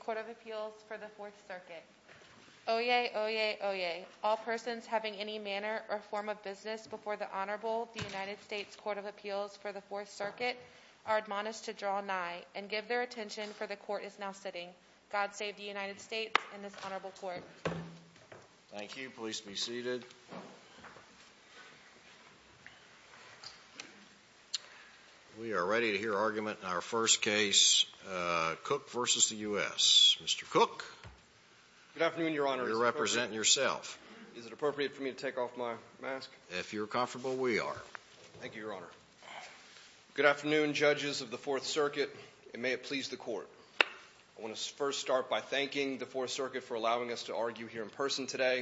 Court of Appeals for the 4th Circuit Oyez, oyez, oyez. All persons having any manner or form of business before the Honorable United States Court of Appeals for the 4th Circuit are admonished to draw nigh and give their attention for the court is now sitting. God bless you. We are ready to hear argument in our first case, Cook v. the U.S. Mr. Cook. Good afternoon, Your Honor. You represent yourself. Is it appropriate for me to take off my mask? If you're comfortable, we are. Thank you, Your Honor. Good afternoon, judges of the 4th Circuit, and may it please the court. I want to first start by thanking the 4th Circuit for allowing us to argue here in person today.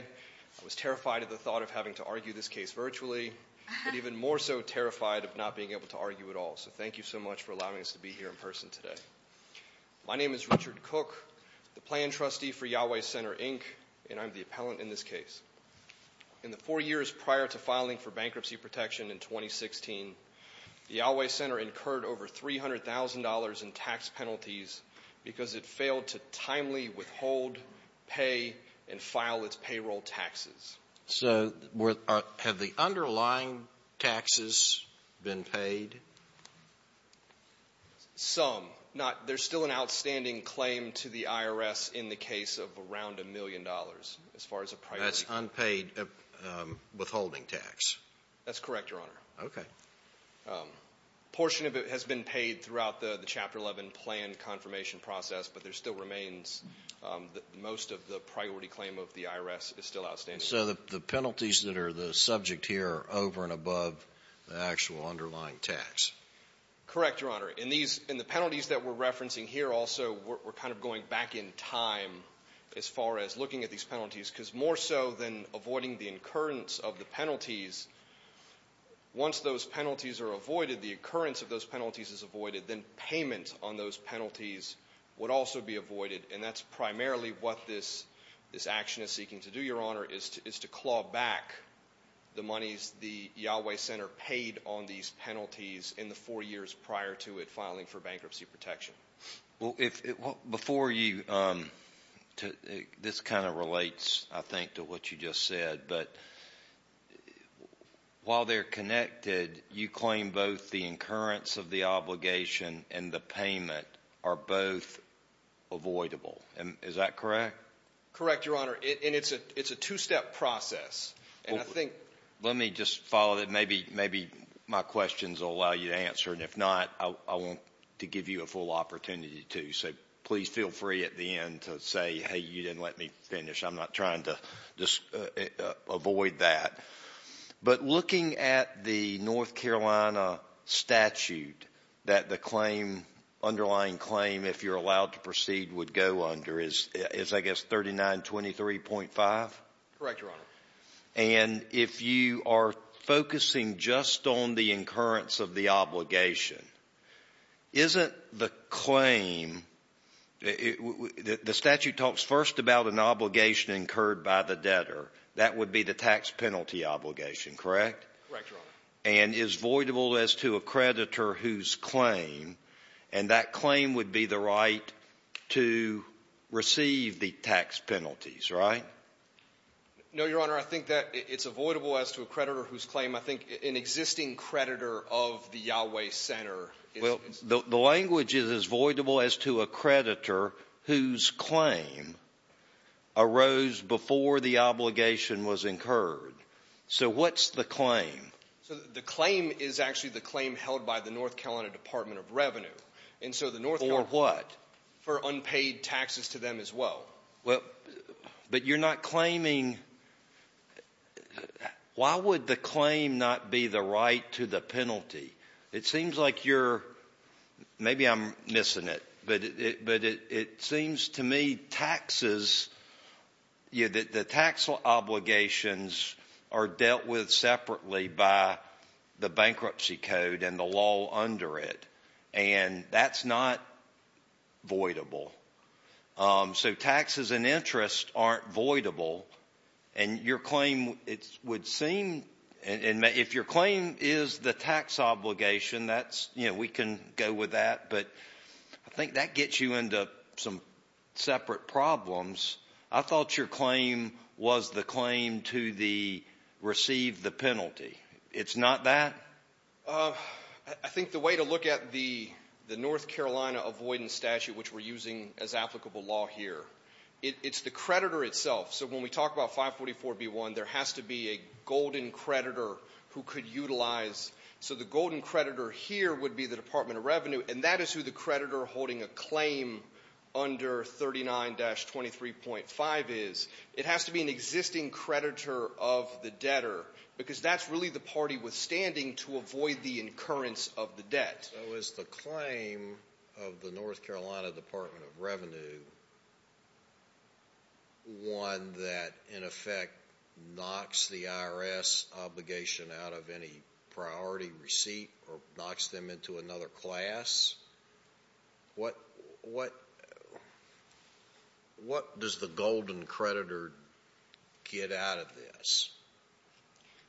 I was terrified at the thought of having to argue this case virtually, but even more so terrified of not being able to argue at all. So thank you so much for allowing us to be here in person today. My name is Richard Cook, the plan trustee for Yahweh Center, Inc., and I'm the appellant in this case. In the four years prior to filing for bankruptcy protection in 2016, the Yahweh Center incurred over $300,000 in tax penalties because it failed to timely withhold, pay, and file its payroll taxes. So have the underlying taxes been paid? Some. Not — there's still an outstanding claim to the IRS in the case of around a million dollars as far as a priority. That's unpaid withholding tax. That's correct, Your Honor. Okay. A portion of it has been paid throughout the Chapter 11 plan confirmation process, but there still remains — most of the priority claim of the IRS is still outstanding. So the penalties that are the subject here are over and above the actual underlying tax. Correct, Your Honor. In these — in the penalties that we're referencing here also, we're kind of going back in time as far as looking at these penalties, because more so than avoiding the incurrence of the penalties, once those penalties are avoided, the occurrence of those penalties is avoided, then payment on those penalties would also be avoided. And that's to — is to claw back the monies the Yahweh Center paid on these penalties in the four years prior to it filing for bankruptcy protection. Well, if — before you — this kind of relates, I think, to what you just said, but while they're connected, you claim both the incurrence of the obligation and the payment are both avoidable. Is that correct? Correct, Your Honor. And it's a — it's a two-step process. And I think — Let me just follow that. Maybe — maybe my questions will allow you to answer, and if not, I want to give you a full opportunity to. So please feel free at the end to say, hey, you didn't let me finish. I'm not trying to just avoid that. But looking at the North Carolina statute that the claim — underlying claim, if you're looking at, I guess, 3923.5? Correct, Your Honor. And if you are focusing just on the incurrence of the obligation, isn't the claim — the statute talks first about an obligation incurred by the debtor. That would be the tax penalty obligation, correct? Correct, Your Honor. And is voidable as to a creditor whose claim — and that claim would be the right to receive the tax penalties, right? No, Your Honor. I think that it's avoidable as to a creditor whose claim — I think an existing creditor of the Yahweh Center is — Well, the language is, is voidable as to a creditor whose claim arose before the obligation was incurred. So what's the claim? So the claim is actually the claim held by the North Carolina Department of Revenue. And so the North — For what? For unpaid taxes to them as well. Well, but you're not claiming — why would the claim not be the right to the penalty? It seems like you're — maybe I'm missing it, but it seems to me taxes — the tax obligations are dealt with separately by the bankruptcy code and the law under it. And that's not voidable. So taxes and interest aren't voidable. And your claim, it would seem — and if your claim is the tax obligation, that's — you know, we can go with that. But I think that gets you into some separate problems. I thought your claim was the claim to the — receive the penalty. It's not that? I think the way to look at the North Carolina avoidance statute, which we're using as applicable law here, it's the creditor itself. So when we talk about 544B1, there has to be a golden creditor who could utilize — so the golden creditor here would be the Department of Revenue, and that is who the creditor holding a claim under 39-23.5 is. It has to be an existing creditor of the debtor, because that's really the party withstanding to avoid the incurrence of the debt. So is the claim of the North Carolina Department of Revenue one that, in effect, knocks the IRS obligation out of any priority receipt or knocks them into another class? What does the golden creditor get out of this?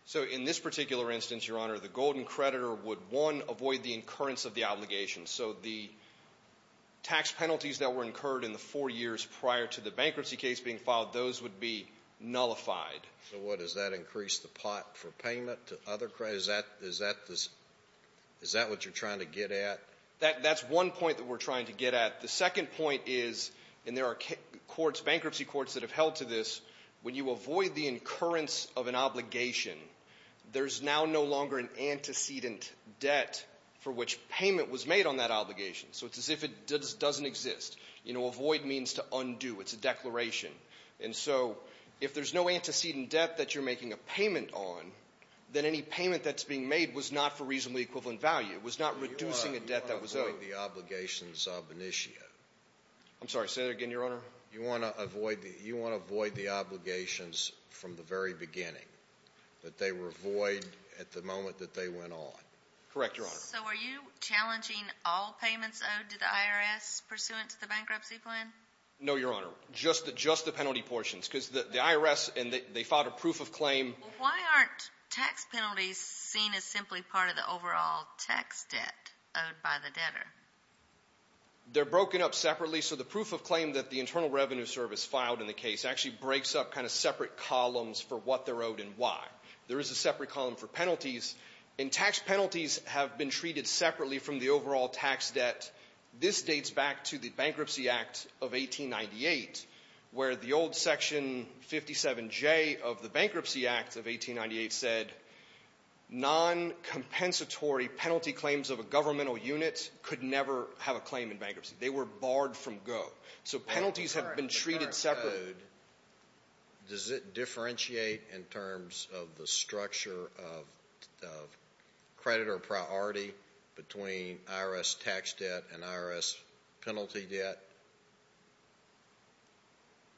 So in this particular instance, Your Honor, the golden creditor would, one, avoid the incurrence of the obligation. So the tax penalties that were incurred in the four years prior to the bankruptcy case being filed, those would be nullified. So what? Does that increase the pot for payment to other creditors? Is that — is that the — is that what you're trying to get at? That's one point that we're trying to get at. The second point is — and there are courts — bankruptcy courts that have held to this — when you avoid the incurrence of an obligation, there's now no longer an antecedent debt for which payment was made on that obligation. So it's as if it doesn't exist. You know, avoid means to undo. It's a declaration. And so if there's no antecedent debt that you're making a payment on, then any payment that's being made was not for reasonably equivalent value. It was not reducing a debt that was owed. You want to avoid the obligations of an issue? I'm sorry. Say that again, Your Honor. You want to avoid the — you want to avoid the obligations from the very beginning, that they were void at the moment that they went on? Correct, Your Honor. So were you challenging all payments owed to the IRS pursuant to the bankruptcy plan? No, Your Honor. Just — just the penalty portions. Because the IRS — and they filed a proof of claim — Well, why aren't tax penalties seen as simply part of the overall tax debt owed by the debtor? They're broken up separately. So the proof of claim that the Internal Revenue Service filed in the case actually breaks up kind of separate columns for what they're owed and why. There is a separate column for penalties. And tax penalties have been treated separately from the overall tax debt. This dates back to the Bankruptcy Act of 1898, where the old Section 57J of the Bankruptcy Act of 1898 said noncompensatory penalty claims of a governmental unit could never have a claim in bankruptcy. They were barred from go. So penalties have been treated separately. The current code, does it differentiate in terms of the structure of credit or priority between IRS tax debt and IRS penalty debt?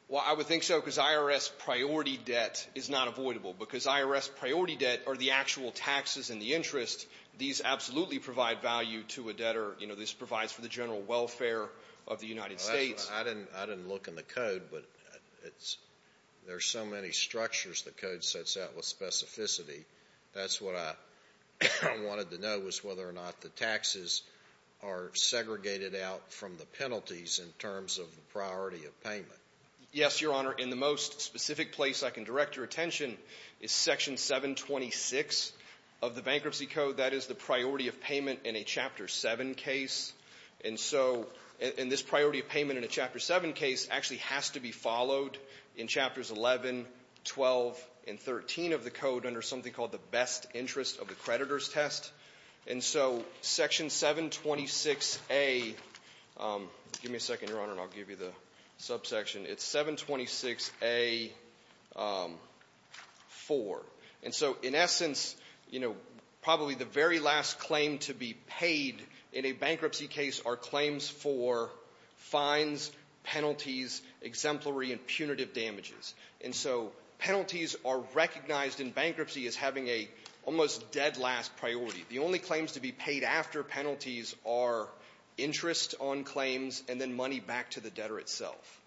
Well, I would think so, because IRS priority debt is not avoidable. Because IRS priority debt are the actual taxes and the interest. These absolutely provide value to a debtor. You know, this provides for the general welfare of the United States. I didn't look in the code, but it's — there's so many structures the code sets out with specificity. That's what I wanted to know, was whether or not the taxes are segregated out from the penalties in terms of the priority of payment. Yes, Your Honor. In the most specific place I can direct your attention is Section 726 of the Bankruptcy Code. That is the priority of payment in a Chapter 7 case. And so — and this priority of payment in a Chapter 7 case actually has to be followed in Chapters 11, 12, and 13 of the code under something called the best interest of the creditor's test. And so Section 726A — give me a second, Your Honor, and I'll give you the subsection. It's 726A-4. And so, in essence, you know, probably the very last claim to be paid in a bankruptcy case are claims for fines, penalties, exemplary and punitive damages. And so penalties are recognized in bankruptcy as having a almost dead last priority. The only claims to be paid after penalties are interest on claims and then money back to the debtor itself.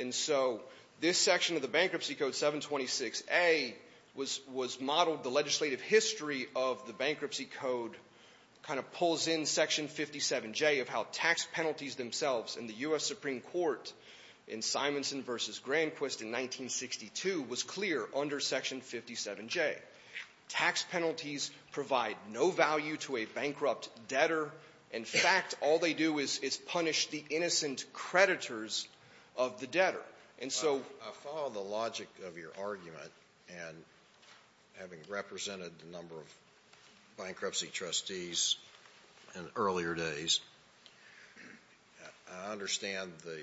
And so this section of the Bankruptcy Code, 726A, was modeled — the legislative history of the Bankruptcy Code kind of pulls in Section 57J of how tax penalties themselves in the U.S. Supreme Court in Simonson v. Granquist in 1962 was clear under Section 57J. Tax penalties provide no value to a bankrupt debtor. In fact, all they do is punish the innocent creditors of the debtor. And so — Alito, I follow the logic of your argument. And having represented a number of bankruptcy trustees in earlier days, I understand the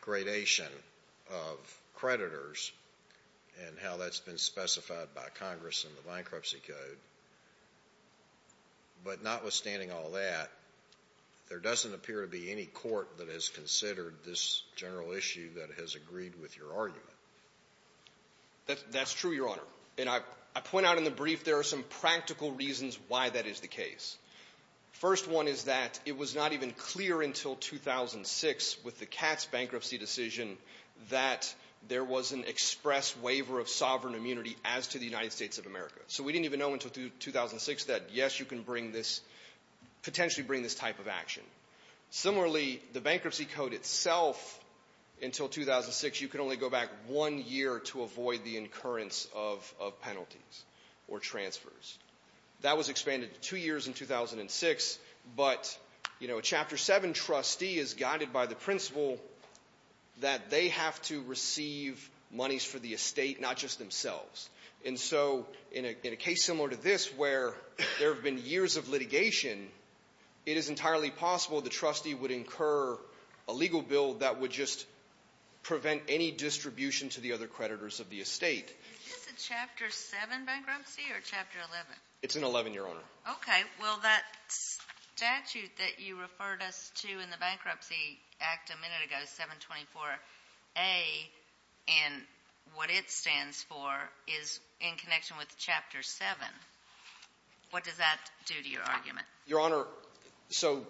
gradation of creditors and how that's been specified by Congress in the Bankruptcy Code. But notwithstanding all that, there doesn't appear to be any court that has considered this general issue that has agreed with your argument. That's true, Your Honor. And I point out in the brief there are some practical reasons why that is the case. First one is that it was not even clear until 2006 with the Katz bankruptcy decision that there was an express waiver of sovereign until 2006 that, yes, you can bring this — potentially bring this type of action. Similarly, the Bankruptcy Code itself, until 2006, you could only go back one year to avoid the incurrence of penalties or transfers. That was expanded to two years in 2006. But, you know, a Chapter 7 trustee is guided by the principle that they have to receive monies for the estate, not just themselves. And so in a case similar to this where there have been years of litigation, it is entirely possible the trustee would incur a legal bill that would just prevent any distribution to the other creditors of the estate. Is this a Chapter 7 bankruptcy or a Chapter 11? It's an 11, Your Honor. Okay. Well, that statute that you referred us to in the Bankruptcy Act a minute ago, 724A, and what it stands for is in connection with Chapter 7. What does that do to your argument? Your Honor, so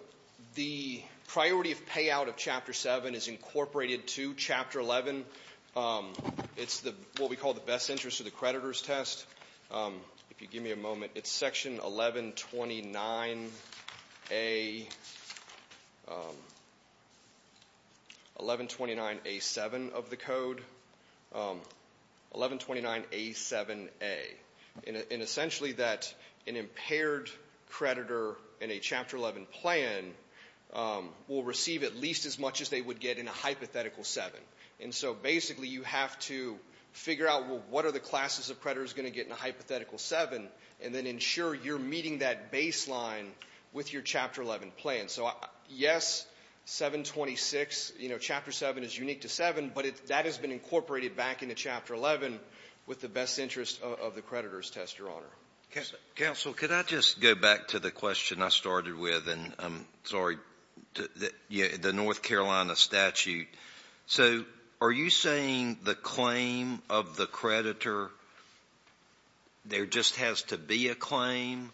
the priority of payout of Chapter 7 is incorporated to Chapter 11. It's what we call the best interest of the creditors test. If you give me a moment, it's Section 1129A7 of the code, 1129A7A. And essentially that an impaired creditor in a Chapter 11 plan will receive at least as much as they would get in a hypothetical 7. And so basically you have to figure out, well, what are the classes of creditors going to get in a hypothetical 7, and then ensure you're meeting that baseline with your Chapter 11 plan. So yes, 726, you know, Chapter 7 is unique to 7, but that has been incorporated back into Chapter 11 with the best interest of the creditors test, Your Honor. Counsel, could I just go back to the question I started with, and I'm sorry, the North Carolina statute. So are you saying the claim of the creditor, there just has to be a claim?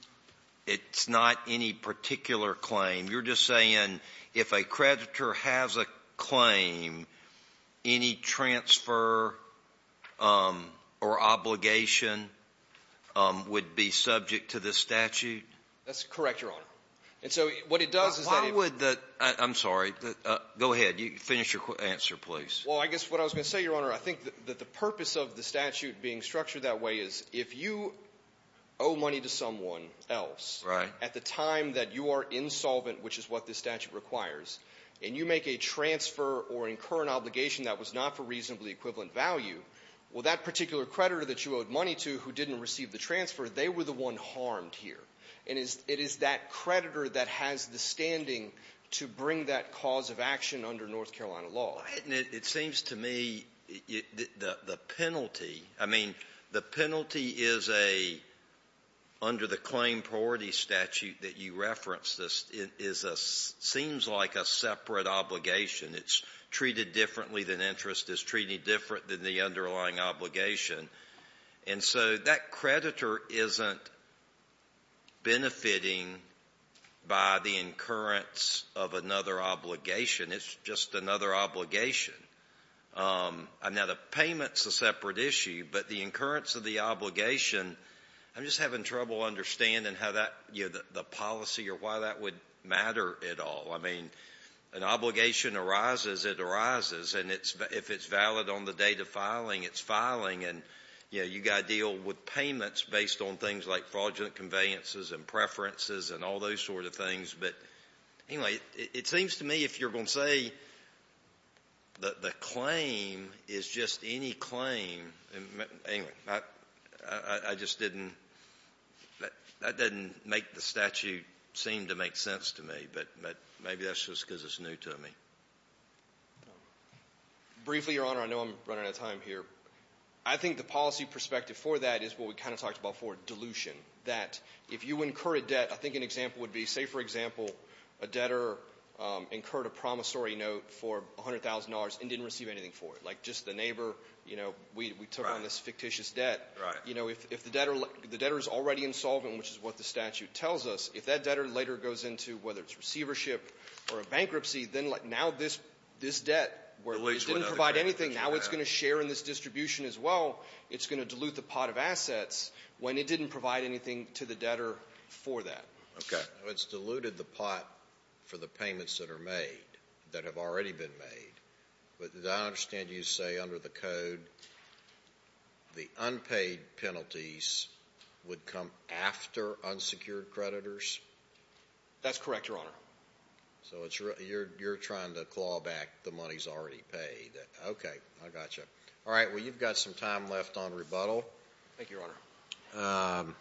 It's not any particular claim. You're just saying if a creditor has a claim, any transfer or obligation would be subject to this statute? That's correct, Your Honor. And so what it does is that it would the — Go ahead. Finish your answer, please. Well, I guess what I was going to say, Your Honor, I think that the purpose of the statute being structured that way is if you owe money to someone else — Right. — at the time that you are insolvent, which is what this statute requires, and you make a transfer or incur an obligation that was not for reasonably equivalent value, well, that particular creditor that you owed money to who didn't receive the transfer, they were the one harmed here. And it is that creditor that has the standing to bring that cause of action under North Carolina law. It seems to me the penalty — I mean, the penalty is a — under the claim priority statute that you referenced, this is a — seems like a separate obligation. It's treated differently than interest is treated different than the underlying obligation. And so that creditor isn't benefiting by the incurrence of another obligation. It's just another obligation. Now, the payment's a separate issue, but the incurrence of the obligation, I'm just having trouble understanding how that — you know, the policy or why that would matter at all. I mean, an obligation arises, it arises. And if it's valid on the date of filing, it's filing. And, you know, you've got to deal with payments based on things like fraudulent conveyances and preferences and all those sort of things. But anyway, it seems to me if you're going to say that the claim is just any claim — anyway, I just didn't — that doesn't make the statute seem to make sense to me, but maybe that's just because it's new to me. Briefly, Your Honor, I know I'm running out of time here. I think the policy perspective for that is what we kind of talked about for dilution, that if you incur a debt, I think an example would be, say, for example, a debtor incurred a promissory note for $100,000 and didn't receive anything for it. Like just the neighbor, you know, we took on this fictitious debt. Right. You know, if the debtor — the debtor is already insolvent, which is what the statute tells us, if that debtor later goes into, whether it's receivership or a bankruptcy, then now this — this debt, where it didn't provide anything, now it's going to share in this distribution as well, it's going to dilute the pot of assets when it didn't provide anything to the debtor for that. Okay. It's diluted the pot for the payments that are made, that have already been made. But I understand you say under the code the unpaid penalties would come after unsecured creditors? That's correct, Your Honor. So it's — you're trying to claw back the monies already paid. Okay. I got you. All right. Well, you've got some time left on rebuttal. Thank you, Your Honor.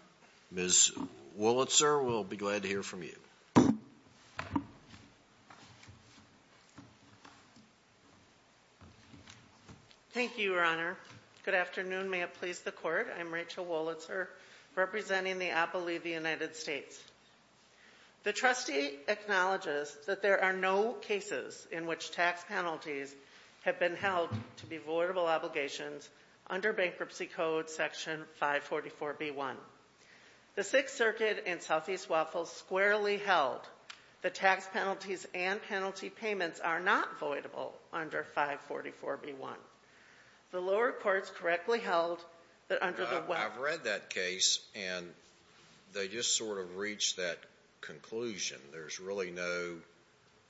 Ms. Wolitzer, we'll be glad to hear from you. Thank you, Your Honor. Good afternoon. May it please the Court. I'm Rachel Wolitzer, representing the Apple League of the United States. The trustee acknowledges that there are no cases in which tax penalties have been held to be voidable obligations under Bankruptcy Code Section 544B1. The Sixth Circuit and Southeast Waffle squarely held that tax penalties and penalty payments are not voidable under 544B1. The lower courts correctly held that under the — I've read that case, and they just sort of reached that conclusion. There's really no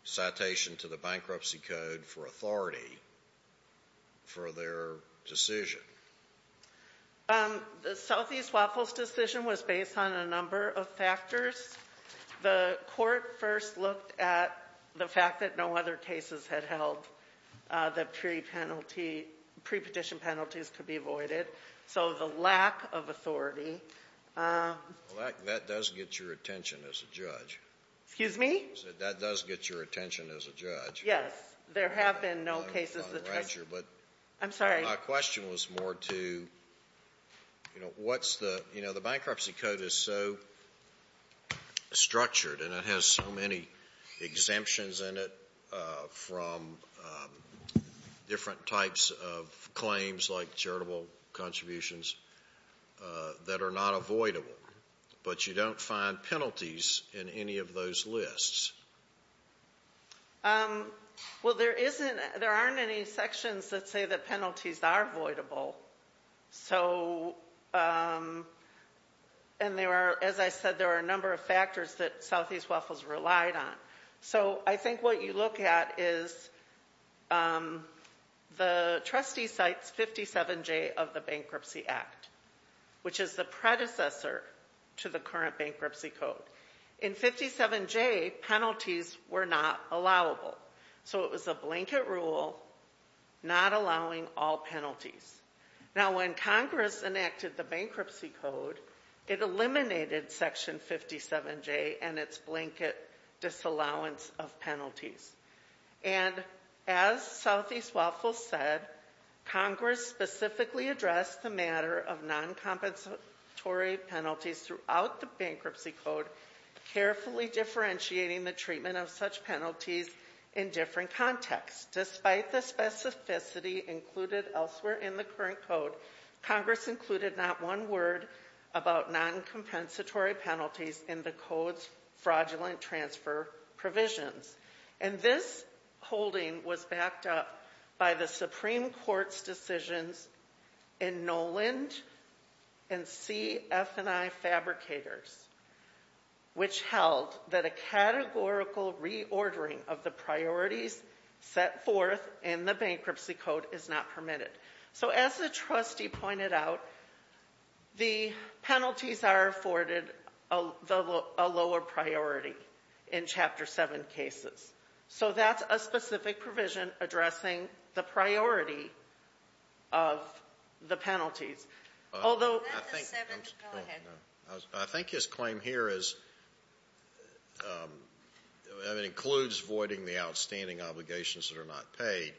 citation to the Bankruptcy Code for authority for their decision. The Southeast Waffles decision was based on a number of factors. The court first looked at the fact that no other cases had held that pre-penalty — pre-petition penalties could be voided. So the lack of authority — Well, that does get your attention as a judge. Excuse me? That does get your attention as a judge. Yes. There have been no cases that — I'm sorry. My question was more to, you know, what's the — you know, the Bankruptcy Code is so structured, and it has so many exemptions in it from different types of claims, like charitable contributions, that are not avoidable. But you don't find penalties in any of those lists. Well, there isn't — there aren't any sections that say that penalties are voidable. So — and there are, as I said, there are a number of factors that Southeast Waffles relied on. So I think what you look at is the trustee cites 57J of the Bankruptcy Act, which is the predecessor to the current Bankruptcy Code. In 57J, penalties were not allowable. So it was a blanket rule not allowing all penalties. Now, when Congress enacted the Bankruptcy Code, it eliminated Section 57J and its blanket disallowance of penalties. And as Southeast Waffles said, Congress specifically addressed the matter of noncompensatory penalties throughout the Bankruptcy Code, carefully differentiating the treatment of such penalties in different contexts, despite the specificity included elsewhere in the current Code. Congress included not one word about noncompensatory penalties in the Code's fraudulent transfer provisions. And this holding was backed up by the Supreme Court's decisions in Noland and CF&I fabricators, which held that a categorical reordering of the priorities set forth in the Bankruptcy Code is not permitted. So as the trustee pointed out, the penalties are afforded a lower priority in Chapter 7 cases. So that's a specific provision addressing the priority of the penalties. I think his claim here is that it includes voiding the outstanding obligations that are not paid.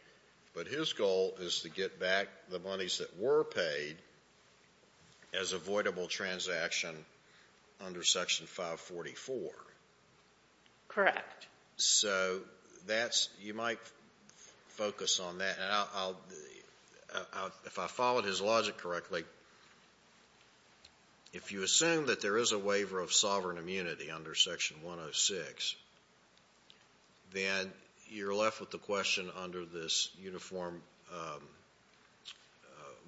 But his goal is to get back the monies that were paid as a voidable transaction under Section 544. Correct. So that's you might focus on that. If I followed his logic correctly, if you assume that there is a waiver of sovereign immunity under Section 106, then you're left with the question under this Uniform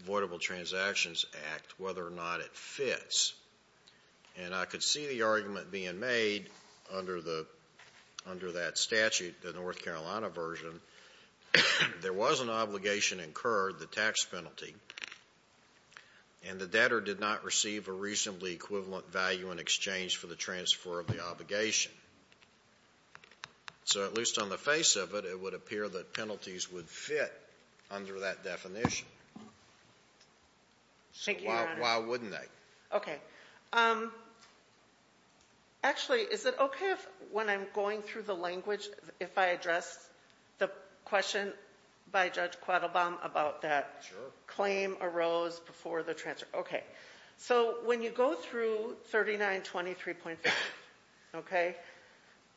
Voidable Transactions Act whether or not it fits. And I could see the argument being made under that statute, the North Carolina version. There was an obligation incurred, the tax penalty, and the debtor did not receive a reasonably equivalent value in exchange for the transfer of the obligation. So at least on the face of it, it would appear that penalties would fit under that definition. Thank you, Your Honor. So why wouldn't they? Okay. Actually, is it okay if when I'm going through the language, if I address the question by Judge Quattlebaum about that claim arose before the transfer? Okay. So when you go through 3923.5, okay,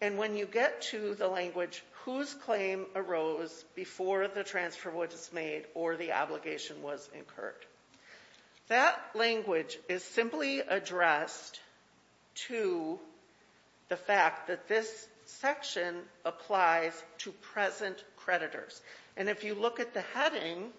and when you get to the language whose claim arose before the transfer was made or the obligation was incurred, that language is simply addressed to the fact that this section applies to present creditors. And if you look at the heading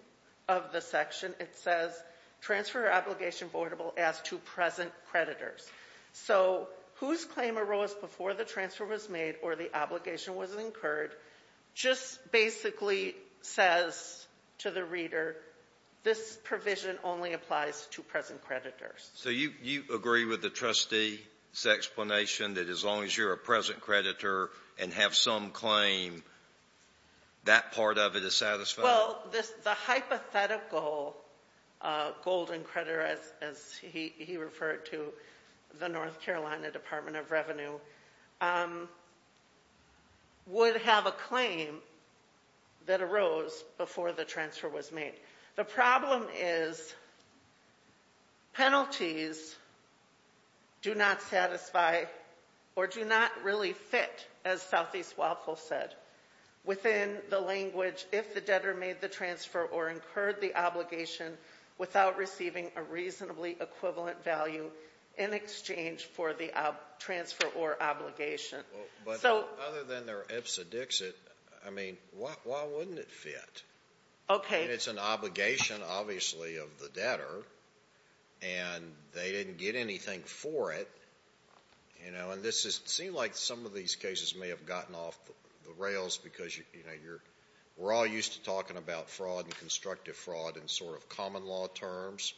of the section, it says, transfer obligation voidable as to present creditors. So whose claim arose before the transfer was made or the obligation was incurred just basically says to the reader this provision only applies to present creditors. So you agree with the trustee's explanation that as long as you're a present creditor and have some claim, that part of it is satisfied? Well, the hypothetical golden creditor, as he referred to the North Carolina Department of Revenue, would have a claim that arose before the transfer was made. The problem is penalties do not satisfy or do not really fit, as Southeast Waffle said, within the language if the debtor made the transfer or incurred the obligation without receiving a reasonably equivalent value in exchange for the transfer or obligation. But other than their ipsa dixit, I mean, why wouldn't it fit? Okay. I mean, it's an obligation, obviously, of the debtor, and they didn't get anything for it, you know, and this seems like some of these cases may have gotten off the rails because, you know, we're all used to talking about fraud and constructive fraud in sort of common law terms,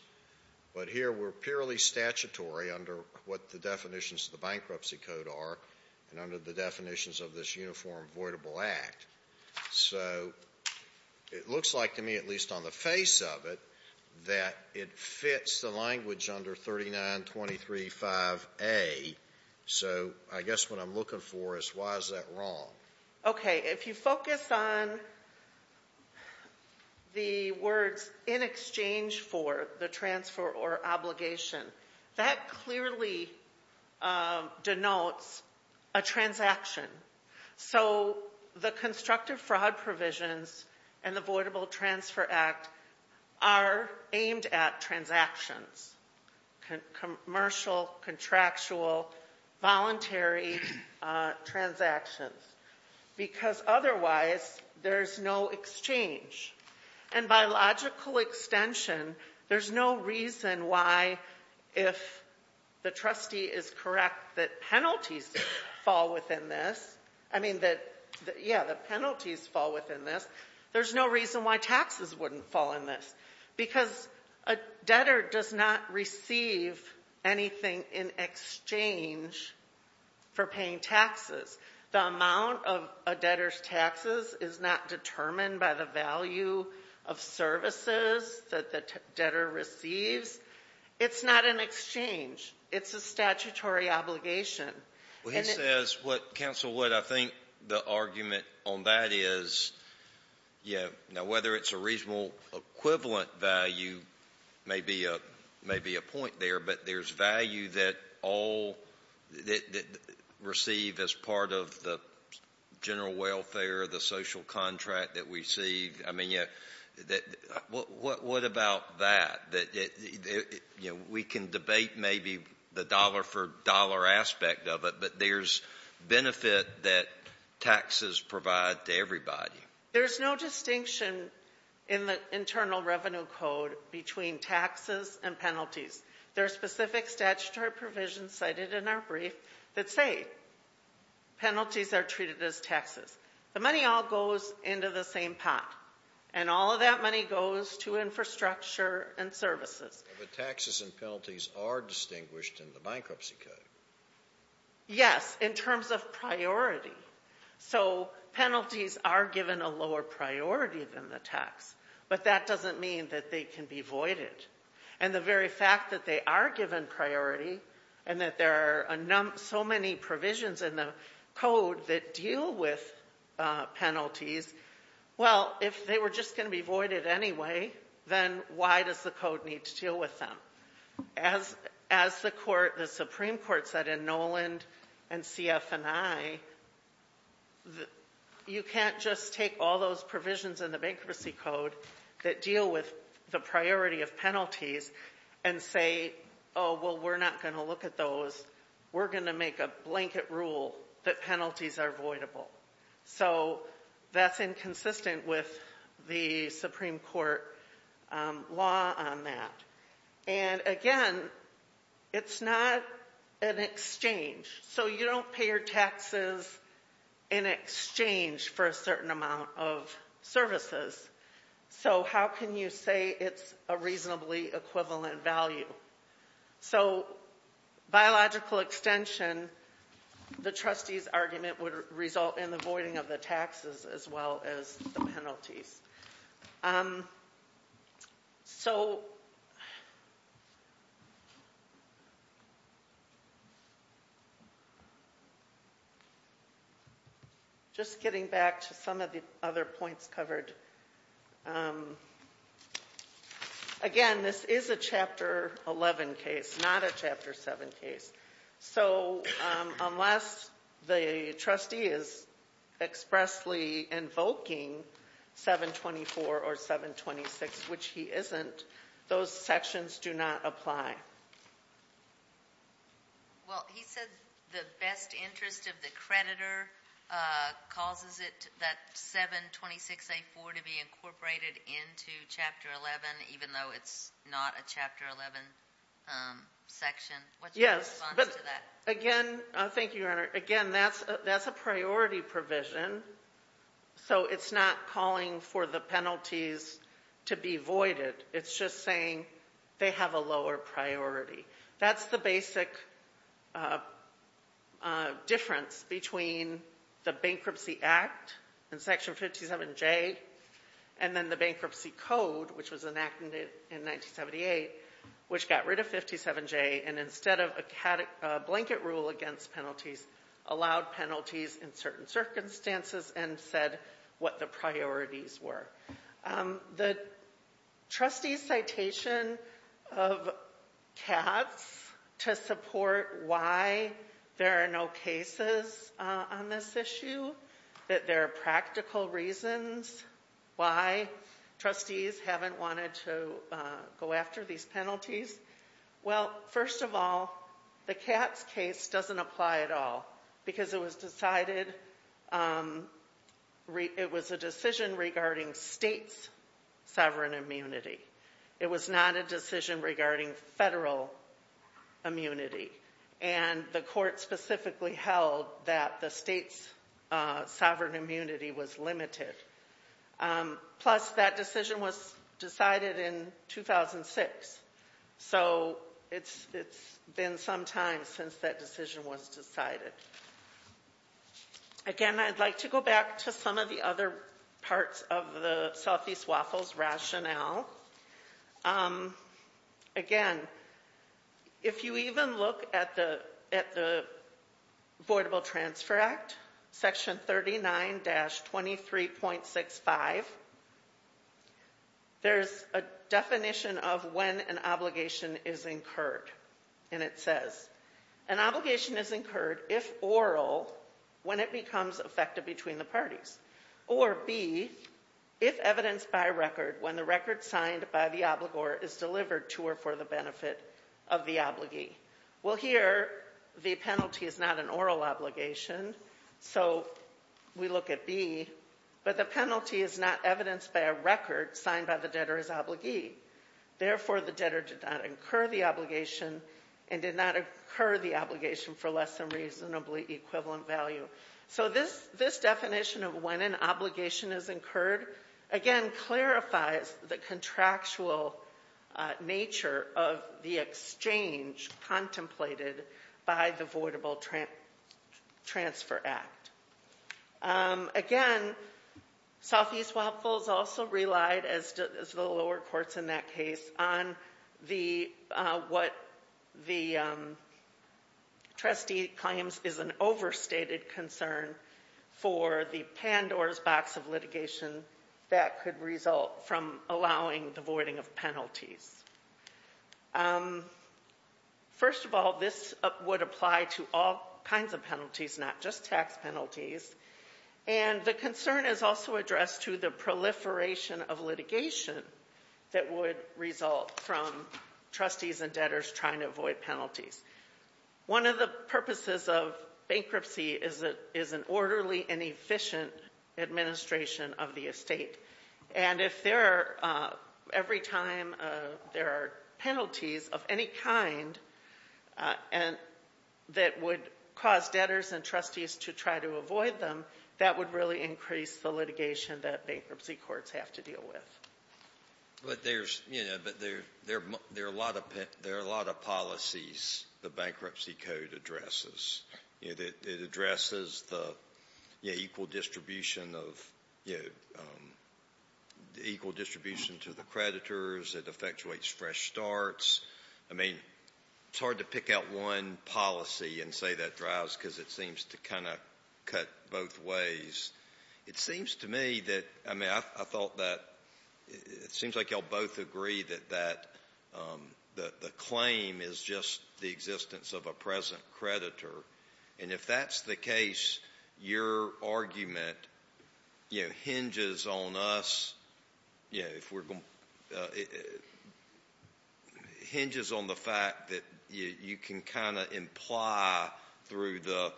but here we're purely statutory under what the definitions of the Bankruptcy Code are and under the definitions of this Uniform Voidable Act. So it looks like to me, at least on the face of it, that it fits the language under 3923.5a. So I guess what I'm looking for is why is that wrong? Okay. If you focus on the words in exchange for the transfer or obligation, that clearly denotes a transaction. So the constructive fraud provisions and the Voidable Transfer Act are aimed at transactions, commercial, contractual, voluntary transactions, because otherwise there's no exchange. And by logical extension, there's no reason why, if the trustee is correct that penalties fall within this, I mean that, yeah, the penalties fall within this, there's no reason why taxes wouldn't fall in this, because a debtor does not receive anything in exchange for paying taxes. The amount of a debtor's taxes is not determined by the value of services that the debtor receives. It's not an exchange. It's a statutory obligation. Well, he says what, Counsel Wood, I think the argument on that is, yeah, now whether it's a reasonable equivalent value may be a point there, but there's value that all receive as part of the general welfare, the social contract that we see. I mean, what about that? We can debate maybe the dollar-for-dollar aspect of it, but there's benefit that taxes provide to everybody. There's no distinction in the Internal Revenue Code between taxes and penalties. There are specific statutory provisions cited in our brief that say penalties are treated as taxes. The money all goes into the same pot, and all of that money goes to infrastructure and services. But taxes and penalties are distinguished in the Bankruptcy Code. Yes, in terms of priority. So penalties are given a lower priority than the tax, but that doesn't mean that they can be voided. And the very fact that they are given priority and that there are so many provisions in the Code that deal with penalties, well, if they were just going to be voided anyway, then why does the Code need to deal with them? As the Supreme Court said in Noland and CF&I, you can't just take all those provisions in the Bankruptcy Code that deal with the priority of penalties and say, oh, well, we're not going to look at those. We're going to make a blanket rule that penalties are voidable. So that's inconsistent with the Supreme Court law on that. And again, it's not an exchange. So you don't pay your taxes in exchange for a certain amount of services. So how can you say it's a reasonably equivalent value? So biological extension, the trustees' argument would result in the voiding of the taxes as well as the penalties. So just getting back to some of the other points covered, again, this is a Chapter 11 case, not a Chapter 7 case. So unless the trustee is expressly invoking 724 or 726, which he isn't, those sections do not apply. Well, he said the best interest of the creditor causes that 726A4 to be incorporated into Chapter 11, even though it's not a Chapter 11 section. What's your response to that? Yes, but again, thank you, Your Honor. Again, that's a priority provision, so it's not calling for the penalties to be voided. It's just saying they have a lower priority. That's the basic difference between the Bankruptcy Act in Section 57J and then the Bankruptcy Code, which was enacted in 1978, which got rid of 57J and instead of a blanket rule against penalties, allowed penalties in certain circumstances and said what the priorities were. The trustee's citation of CATS to support why there are no cases on this issue, that there are practical reasons why trustees haven't wanted to go after these penalties, well, first of all, the CATS case doesn't apply at all because it was decided it was a decision regarding states' sovereign immunity. It was not a decision regarding federal immunity, and the court specifically held that the states' sovereign immunity was limited. Plus, that decision was decided in 2006, so it's been some time since that decision was decided. Again, I'd like to go back to some of the other parts of the Southeast Waffles rationale. Again, if you even look at the Voidable Transfer Act, Section 39-23.65, there's a definition of when an obligation is incurred, and it says, an obligation is incurred if oral, when it becomes effective between the parties, or B, if evidenced by record, when the record signed by the obligor is delivered to or for the benefit of the obligee. Well, here, the penalty is not an oral obligation, so we look at B, but the penalty is not evidenced by a record signed by the debtor as obligee. Therefore, the debtor did not incur the obligation and did not incur the obligation for less than reasonably equivalent value. So this definition of when an obligation is incurred, again, clarifies the contractual nature of the exchange contemplated by the Voidable Transfer Act. Again, Southeast Waffles also relied, as did the lower courts in that case, on what the trustee claims is an overstated concern for the Pandora's Box of litigation that could result from allowing the voiding of penalties. First of all, this would apply to all kinds of penalties, not just tax penalties, and the concern is also addressed to the proliferation of litigation that would result from trustees and debtors trying to avoid penalties. One of the purposes of bankruptcy is an orderly and efficient administration of the estate, and if every time there are penalties of any kind that would cause debtors and trustees to try to avoid them, that would really increase the litigation that bankruptcy courts have to deal with. But there are a lot of policies the bankruptcy code addresses. It addresses the equal distribution to the creditors. It effectuates fresh starts. I mean, it's hard to pick out one policy and say that drives because it seems to kind of cut both ways. It seems to me that, I mean, I thought that it seems like you'll both agree that the claim is just the existence of a present creditor, and if that's the case, your argument hinges on us, hinges on the fact that you can kind of imply through the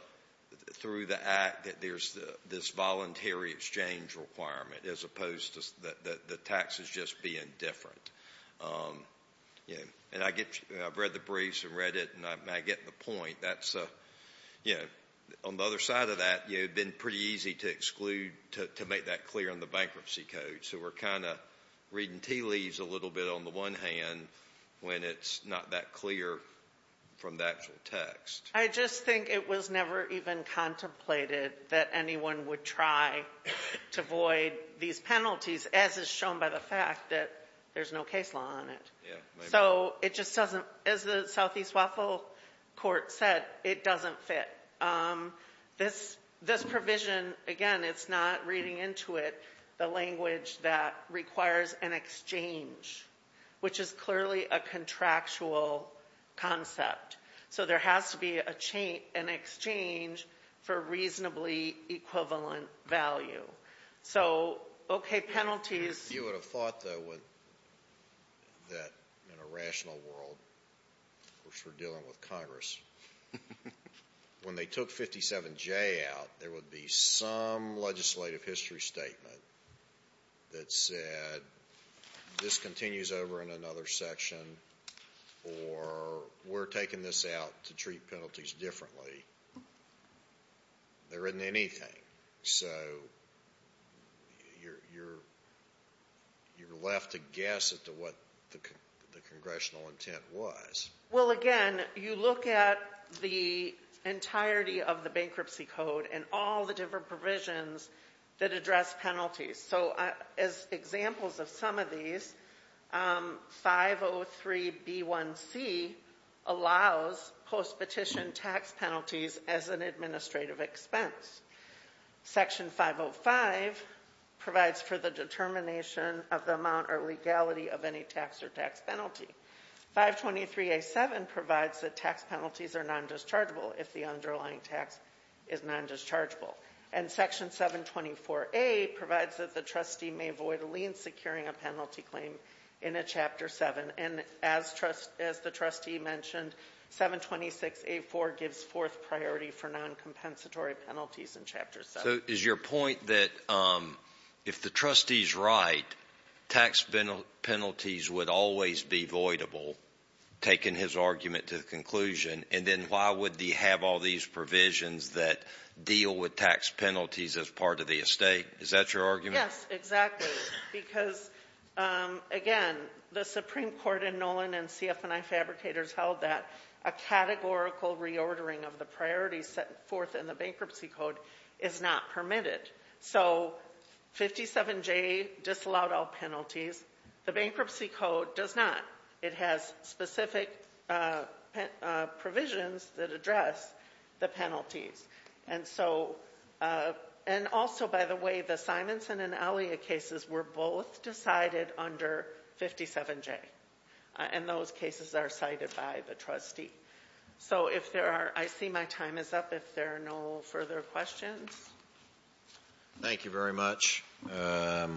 act that there's this violation. It's a voluntary exchange requirement as opposed to the taxes just being different. And I've read the briefs and read it, and I get the point. That's, you know, on the other side of that, it would have been pretty easy to exclude, to make that clear in the bankruptcy code. So we're kind of reading tea leaves a little bit on the one hand when it's not that clear from the actual text. I just think it was never even contemplated that anyone would try to void these penalties, as is shown by the fact that there's no case law on it. So it just doesn't, as the Southeast Waffle Court said, it doesn't fit. This provision, again, it's not reading into it the language that requires an exchange, which is clearly a contractual concept. So there has to be an exchange for reasonably equivalent value. So, okay, penalties. You would have thought, though, that in a rational world, which we're dealing with Congress, when they took 57J out, there would be some legislative history statement that said this continues over in another section, or we're taking this out to treat penalties differently. There isn't anything. So you're left to guess as to what the congressional intent was. Well, again, you look at the entirety of the bankruptcy code and all the different provisions that address penalties. So as examples of some of these, 503B1C allows post-petition tax penalties as an administrative expense. Section 505 provides for the determination of the amount or legality of any tax or tax penalty. 523A7 provides that tax penalties are nondischargeable if the underlying tax is nondischargeable. And Section 724A provides that the trustee may void a lien securing a penalty claim in a Chapter 7. And as the trustee mentioned, 726A4 gives fourth priority for noncompensatory penalties in Chapter 7. So is your point that if the trustee's right, tax penalties would always be voidable, taking his argument to the conclusion, and then why would he have all these provisions that deal with tax penalties as part of the estate? Is that your argument? Yes, exactly. Because, again, the Supreme Court in Nolan and CF&I fabricators held that a categorical reordering of the priorities set forth in the Bankruptcy Code is not permitted. So 57J disallowed all penalties. The Bankruptcy Code does not. It has specific provisions that address the penalties. And also, by the way, the Simonson and Alia cases were both decided under 57J. And those cases are cited by the trustee. So if there are – I see my time is up if there are no further questions. Thank you very much. Mr.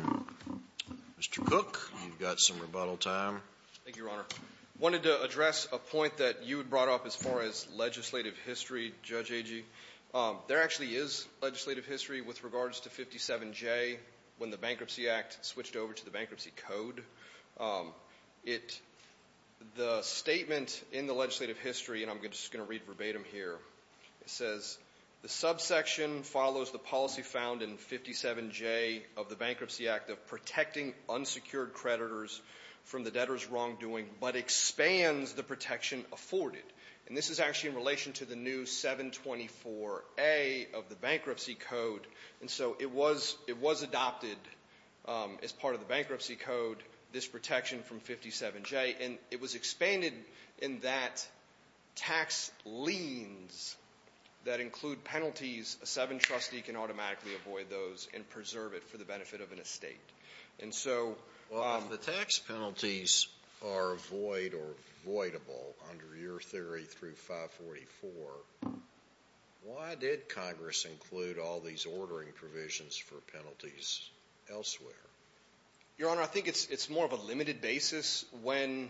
Cook, you've got some rebuttal time. Thank you, Your Honor. I wanted to address a point that you had brought up as far as legislative history, Judge Agee. There actually is legislative history with regards to 57J when the Bankruptcy Act switched over to the Bankruptcy Code. The statement in the legislative history, and I'm just going to read verbatim here, says the subsection follows the policy found in 57J of the Bankruptcy Act of protecting unsecured creditors from the debtor's wrongdoing but expands the protection afforded. And this is actually in relation to the new 724A of the Bankruptcy Code. And so it was adopted as part of the Bankruptcy Code, this protection from 57J. And it was expanded in that tax liens that include penalties, a seven-trustee can automatically avoid those and preserve it for the benefit of an estate. And so – Well, if the tax penalties are void or voidable under your theory through 544, why did Congress include all these ordering provisions for penalties elsewhere? Your Honor, I think it's more of a limited basis when,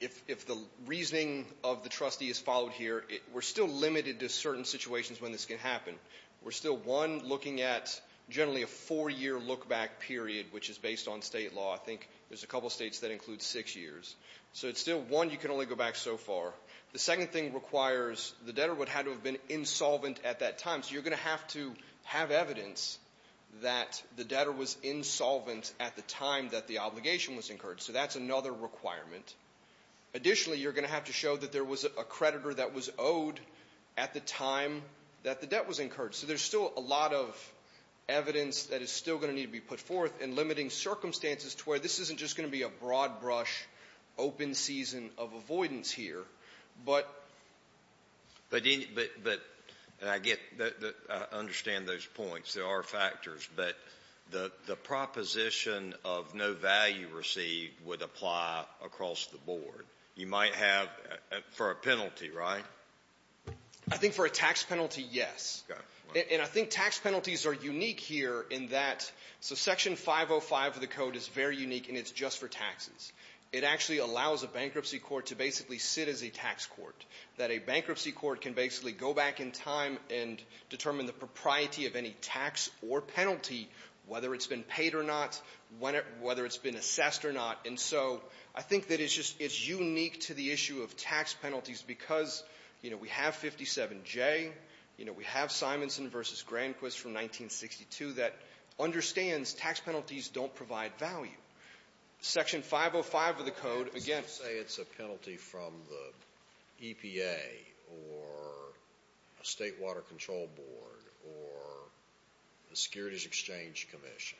if the reasoning of the trustee is followed here, we're still limited to certain situations when this can happen. We're still, one, looking at generally a four-year look-back period, which is based on state law. I think there's a couple states that include six years. So it's still, one, you can only go back so far. The second thing requires the debtor would have to have been insolvent at that time. So you're going to have to have evidence that the debtor was insolvent at the time that the obligation was incurred. So that's another requirement. Additionally, you're going to have to show that there was a creditor that was owed at the time that the debt was incurred. So there's still a lot of evidence that is still going to need to be put forth and limiting circumstances to where this isn't just going to be a broad-brush open season of avoidance here. But any of the other things that I get, I understand those points. There are factors. But the proposition of no value received would apply across the board. You might have, for a penalty, right? I think for a tax penalty, yes. And I think tax penalties are unique here in that, so Section 505 of the Code is very It actually allows a bankruptcy court to basically sit as a tax court, that a bankruptcy court can basically go back in time and determine the propriety of any tax or penalty, whether it's been paid or not, whether it's been assessed or not. And so I think that it's just unique to the issue of tax penalties because, you know, we have 57J, you know, we have Simonson v. Granquist from 1962 that understands tax penalties don't provide value. Section 505 of the Code, again Let's say it's a penalty from the EPA or a State Water Control Board or the Securities Exchange Commission.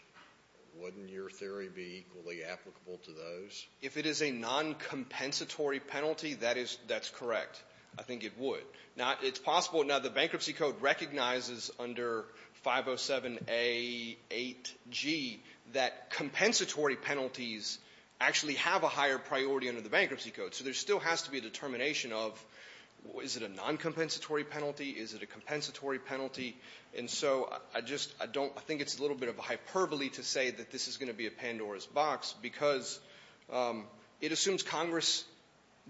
Wouldn't your theory be equally applicable to those? If it is a non-compensatory penalty, that's correct. I think it would. Now, it's possible. Now, the Bankruptcy Code recognizes under 507A8G that compensatory penalties actually have a higher priority under the Bankruptcy Code. So there still has to be a determination of, is it a non-compensatory penalty? Is it a compensatory penalty? And so I just don't think it's a little bit of a hyperbole to say that this is going to be a Pandora's box because it assumes Congress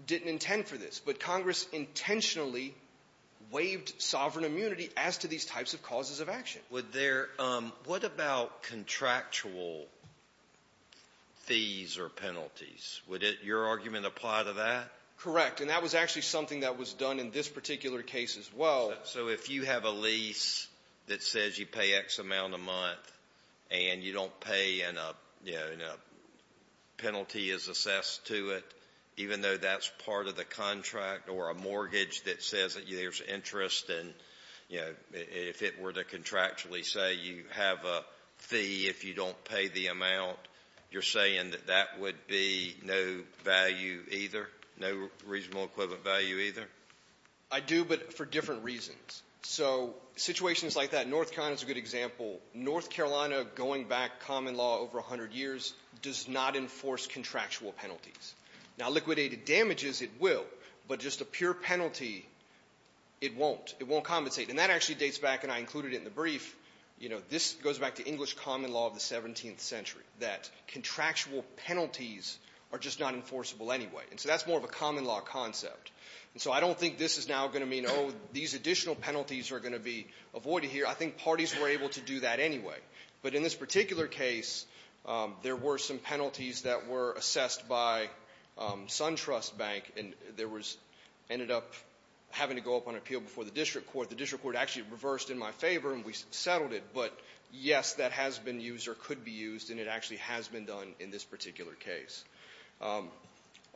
didn't intend for this. But Congress intentionally waived sovereign immunity as to these types of causes of action. Would there – what about contractual fees or penalties? Would your argument apply to that? Correct. And that was actually something that was done in this particular case as well. So if you have a lease that says you pay X amount a month and you don't pay and a penalty is assessed to it, even though that's part of the contract or a mortgage that says that there's interest and, you know, if it were to contractually say you have a fee if you don't pay the amount, you're saying that that would be no value either, no reasonable equivalent value either? I do, but for different reasons. So situations like that, North Carolina is a good Now, liquidated damages, it will. But just a pure penalty, it won't. It won't compensate. And that actually dates back, and I included it in the brief, you know, this goes back to English common law of the 17th century, that contractual penalties are just not enforceable anyway. And so that's more of a common law concept. And so I don't think this is now going to mean, oh, these additional penalties are going to be avoided here. I think parties were able to do that anyway. But in this particular case, there were some penalties that were assessed by SunTrust Bank, and there was, ended up having to go up on appeal before the district court. The district court actually reversed in my favor, and we settled it. But yes, that has been used or could be used, and it actually has been done in this particular case. I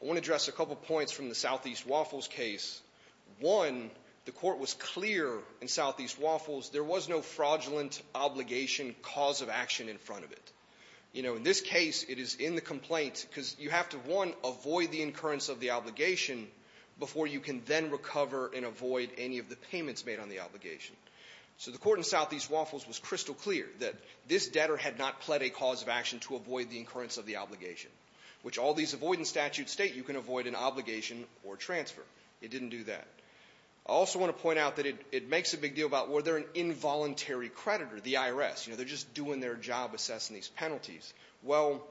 want to address a couple points from the Southeast Waffles case. One, the court was clear in Southeast Waffles there was no fraudulent obligation cause of action in front of it. You know, in this case, it is in the complaint because you have to, one, avoid the incurrence of the obligation before you can then recover and avoid any of the payments made on the obligation. So the court in Southeast Waffles was crystal clear that this debtor had not pled a cause of action to avoid the incurrence of the obligation, which all these avoidance statutes state you can avoid an obligation or transfer. It didn't do that. I also want to point out that it makes a big deal about were there an involuntary creditor, the IRS. You know, they're just doing their job assessing these penalties. Well,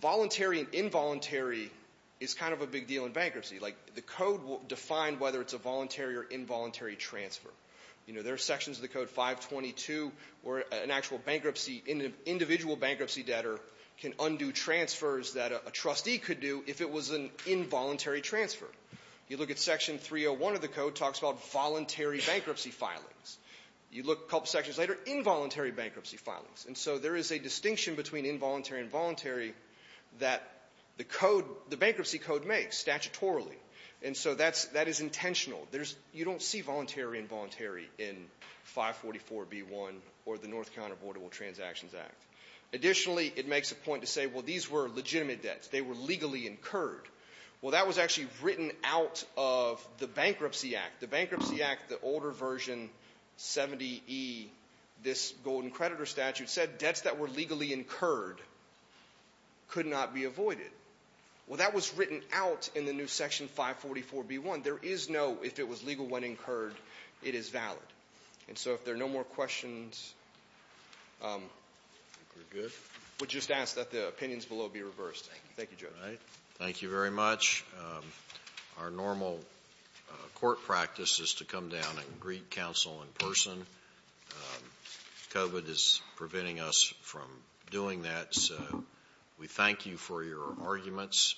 voluntary and involuntary is kind of a big deal in bankruptcy. Like, the code will define whether it's a voluntary or involuntary transfer. You know, there are sections of the code 522 where an actual bankruptcy, an individual bankruptcy debtor can undo transfers that a trustee could do if it was an involuntary transfer. You look at section 301 of the code, it talks about voluntary bankruptcy filings. You look a couple sections later, involuntary bankruptcy filings. And so there is a distinction between involuntary and voluntary that the code, the bankruptcy code makes statutorily. And so that's, that is intentional. There's, you don't see voluntary and involuntary in 544B1 or the North County Affordable Transactions Act. Additionally, it makes a point to say, well, these were legitimate debts. They were legally incurred. Well, that was actually written out of the Bankruptcy Act. The Bankruptcy Act, the older version, 70E, this golden creditor statute, said debts that were legally incurred could not be avoided. Well, that was written out in the new section 544B1. There is no, if it was legal when incurred, it is valid. And so if there are no more questions, we'll just ask that the opinions below be reversed. Thank you, Judge. Thank you very much. Our normal court practice is to come down and greet counsel in person. COVID is preventing us from doing that. So we thank you for your arguments.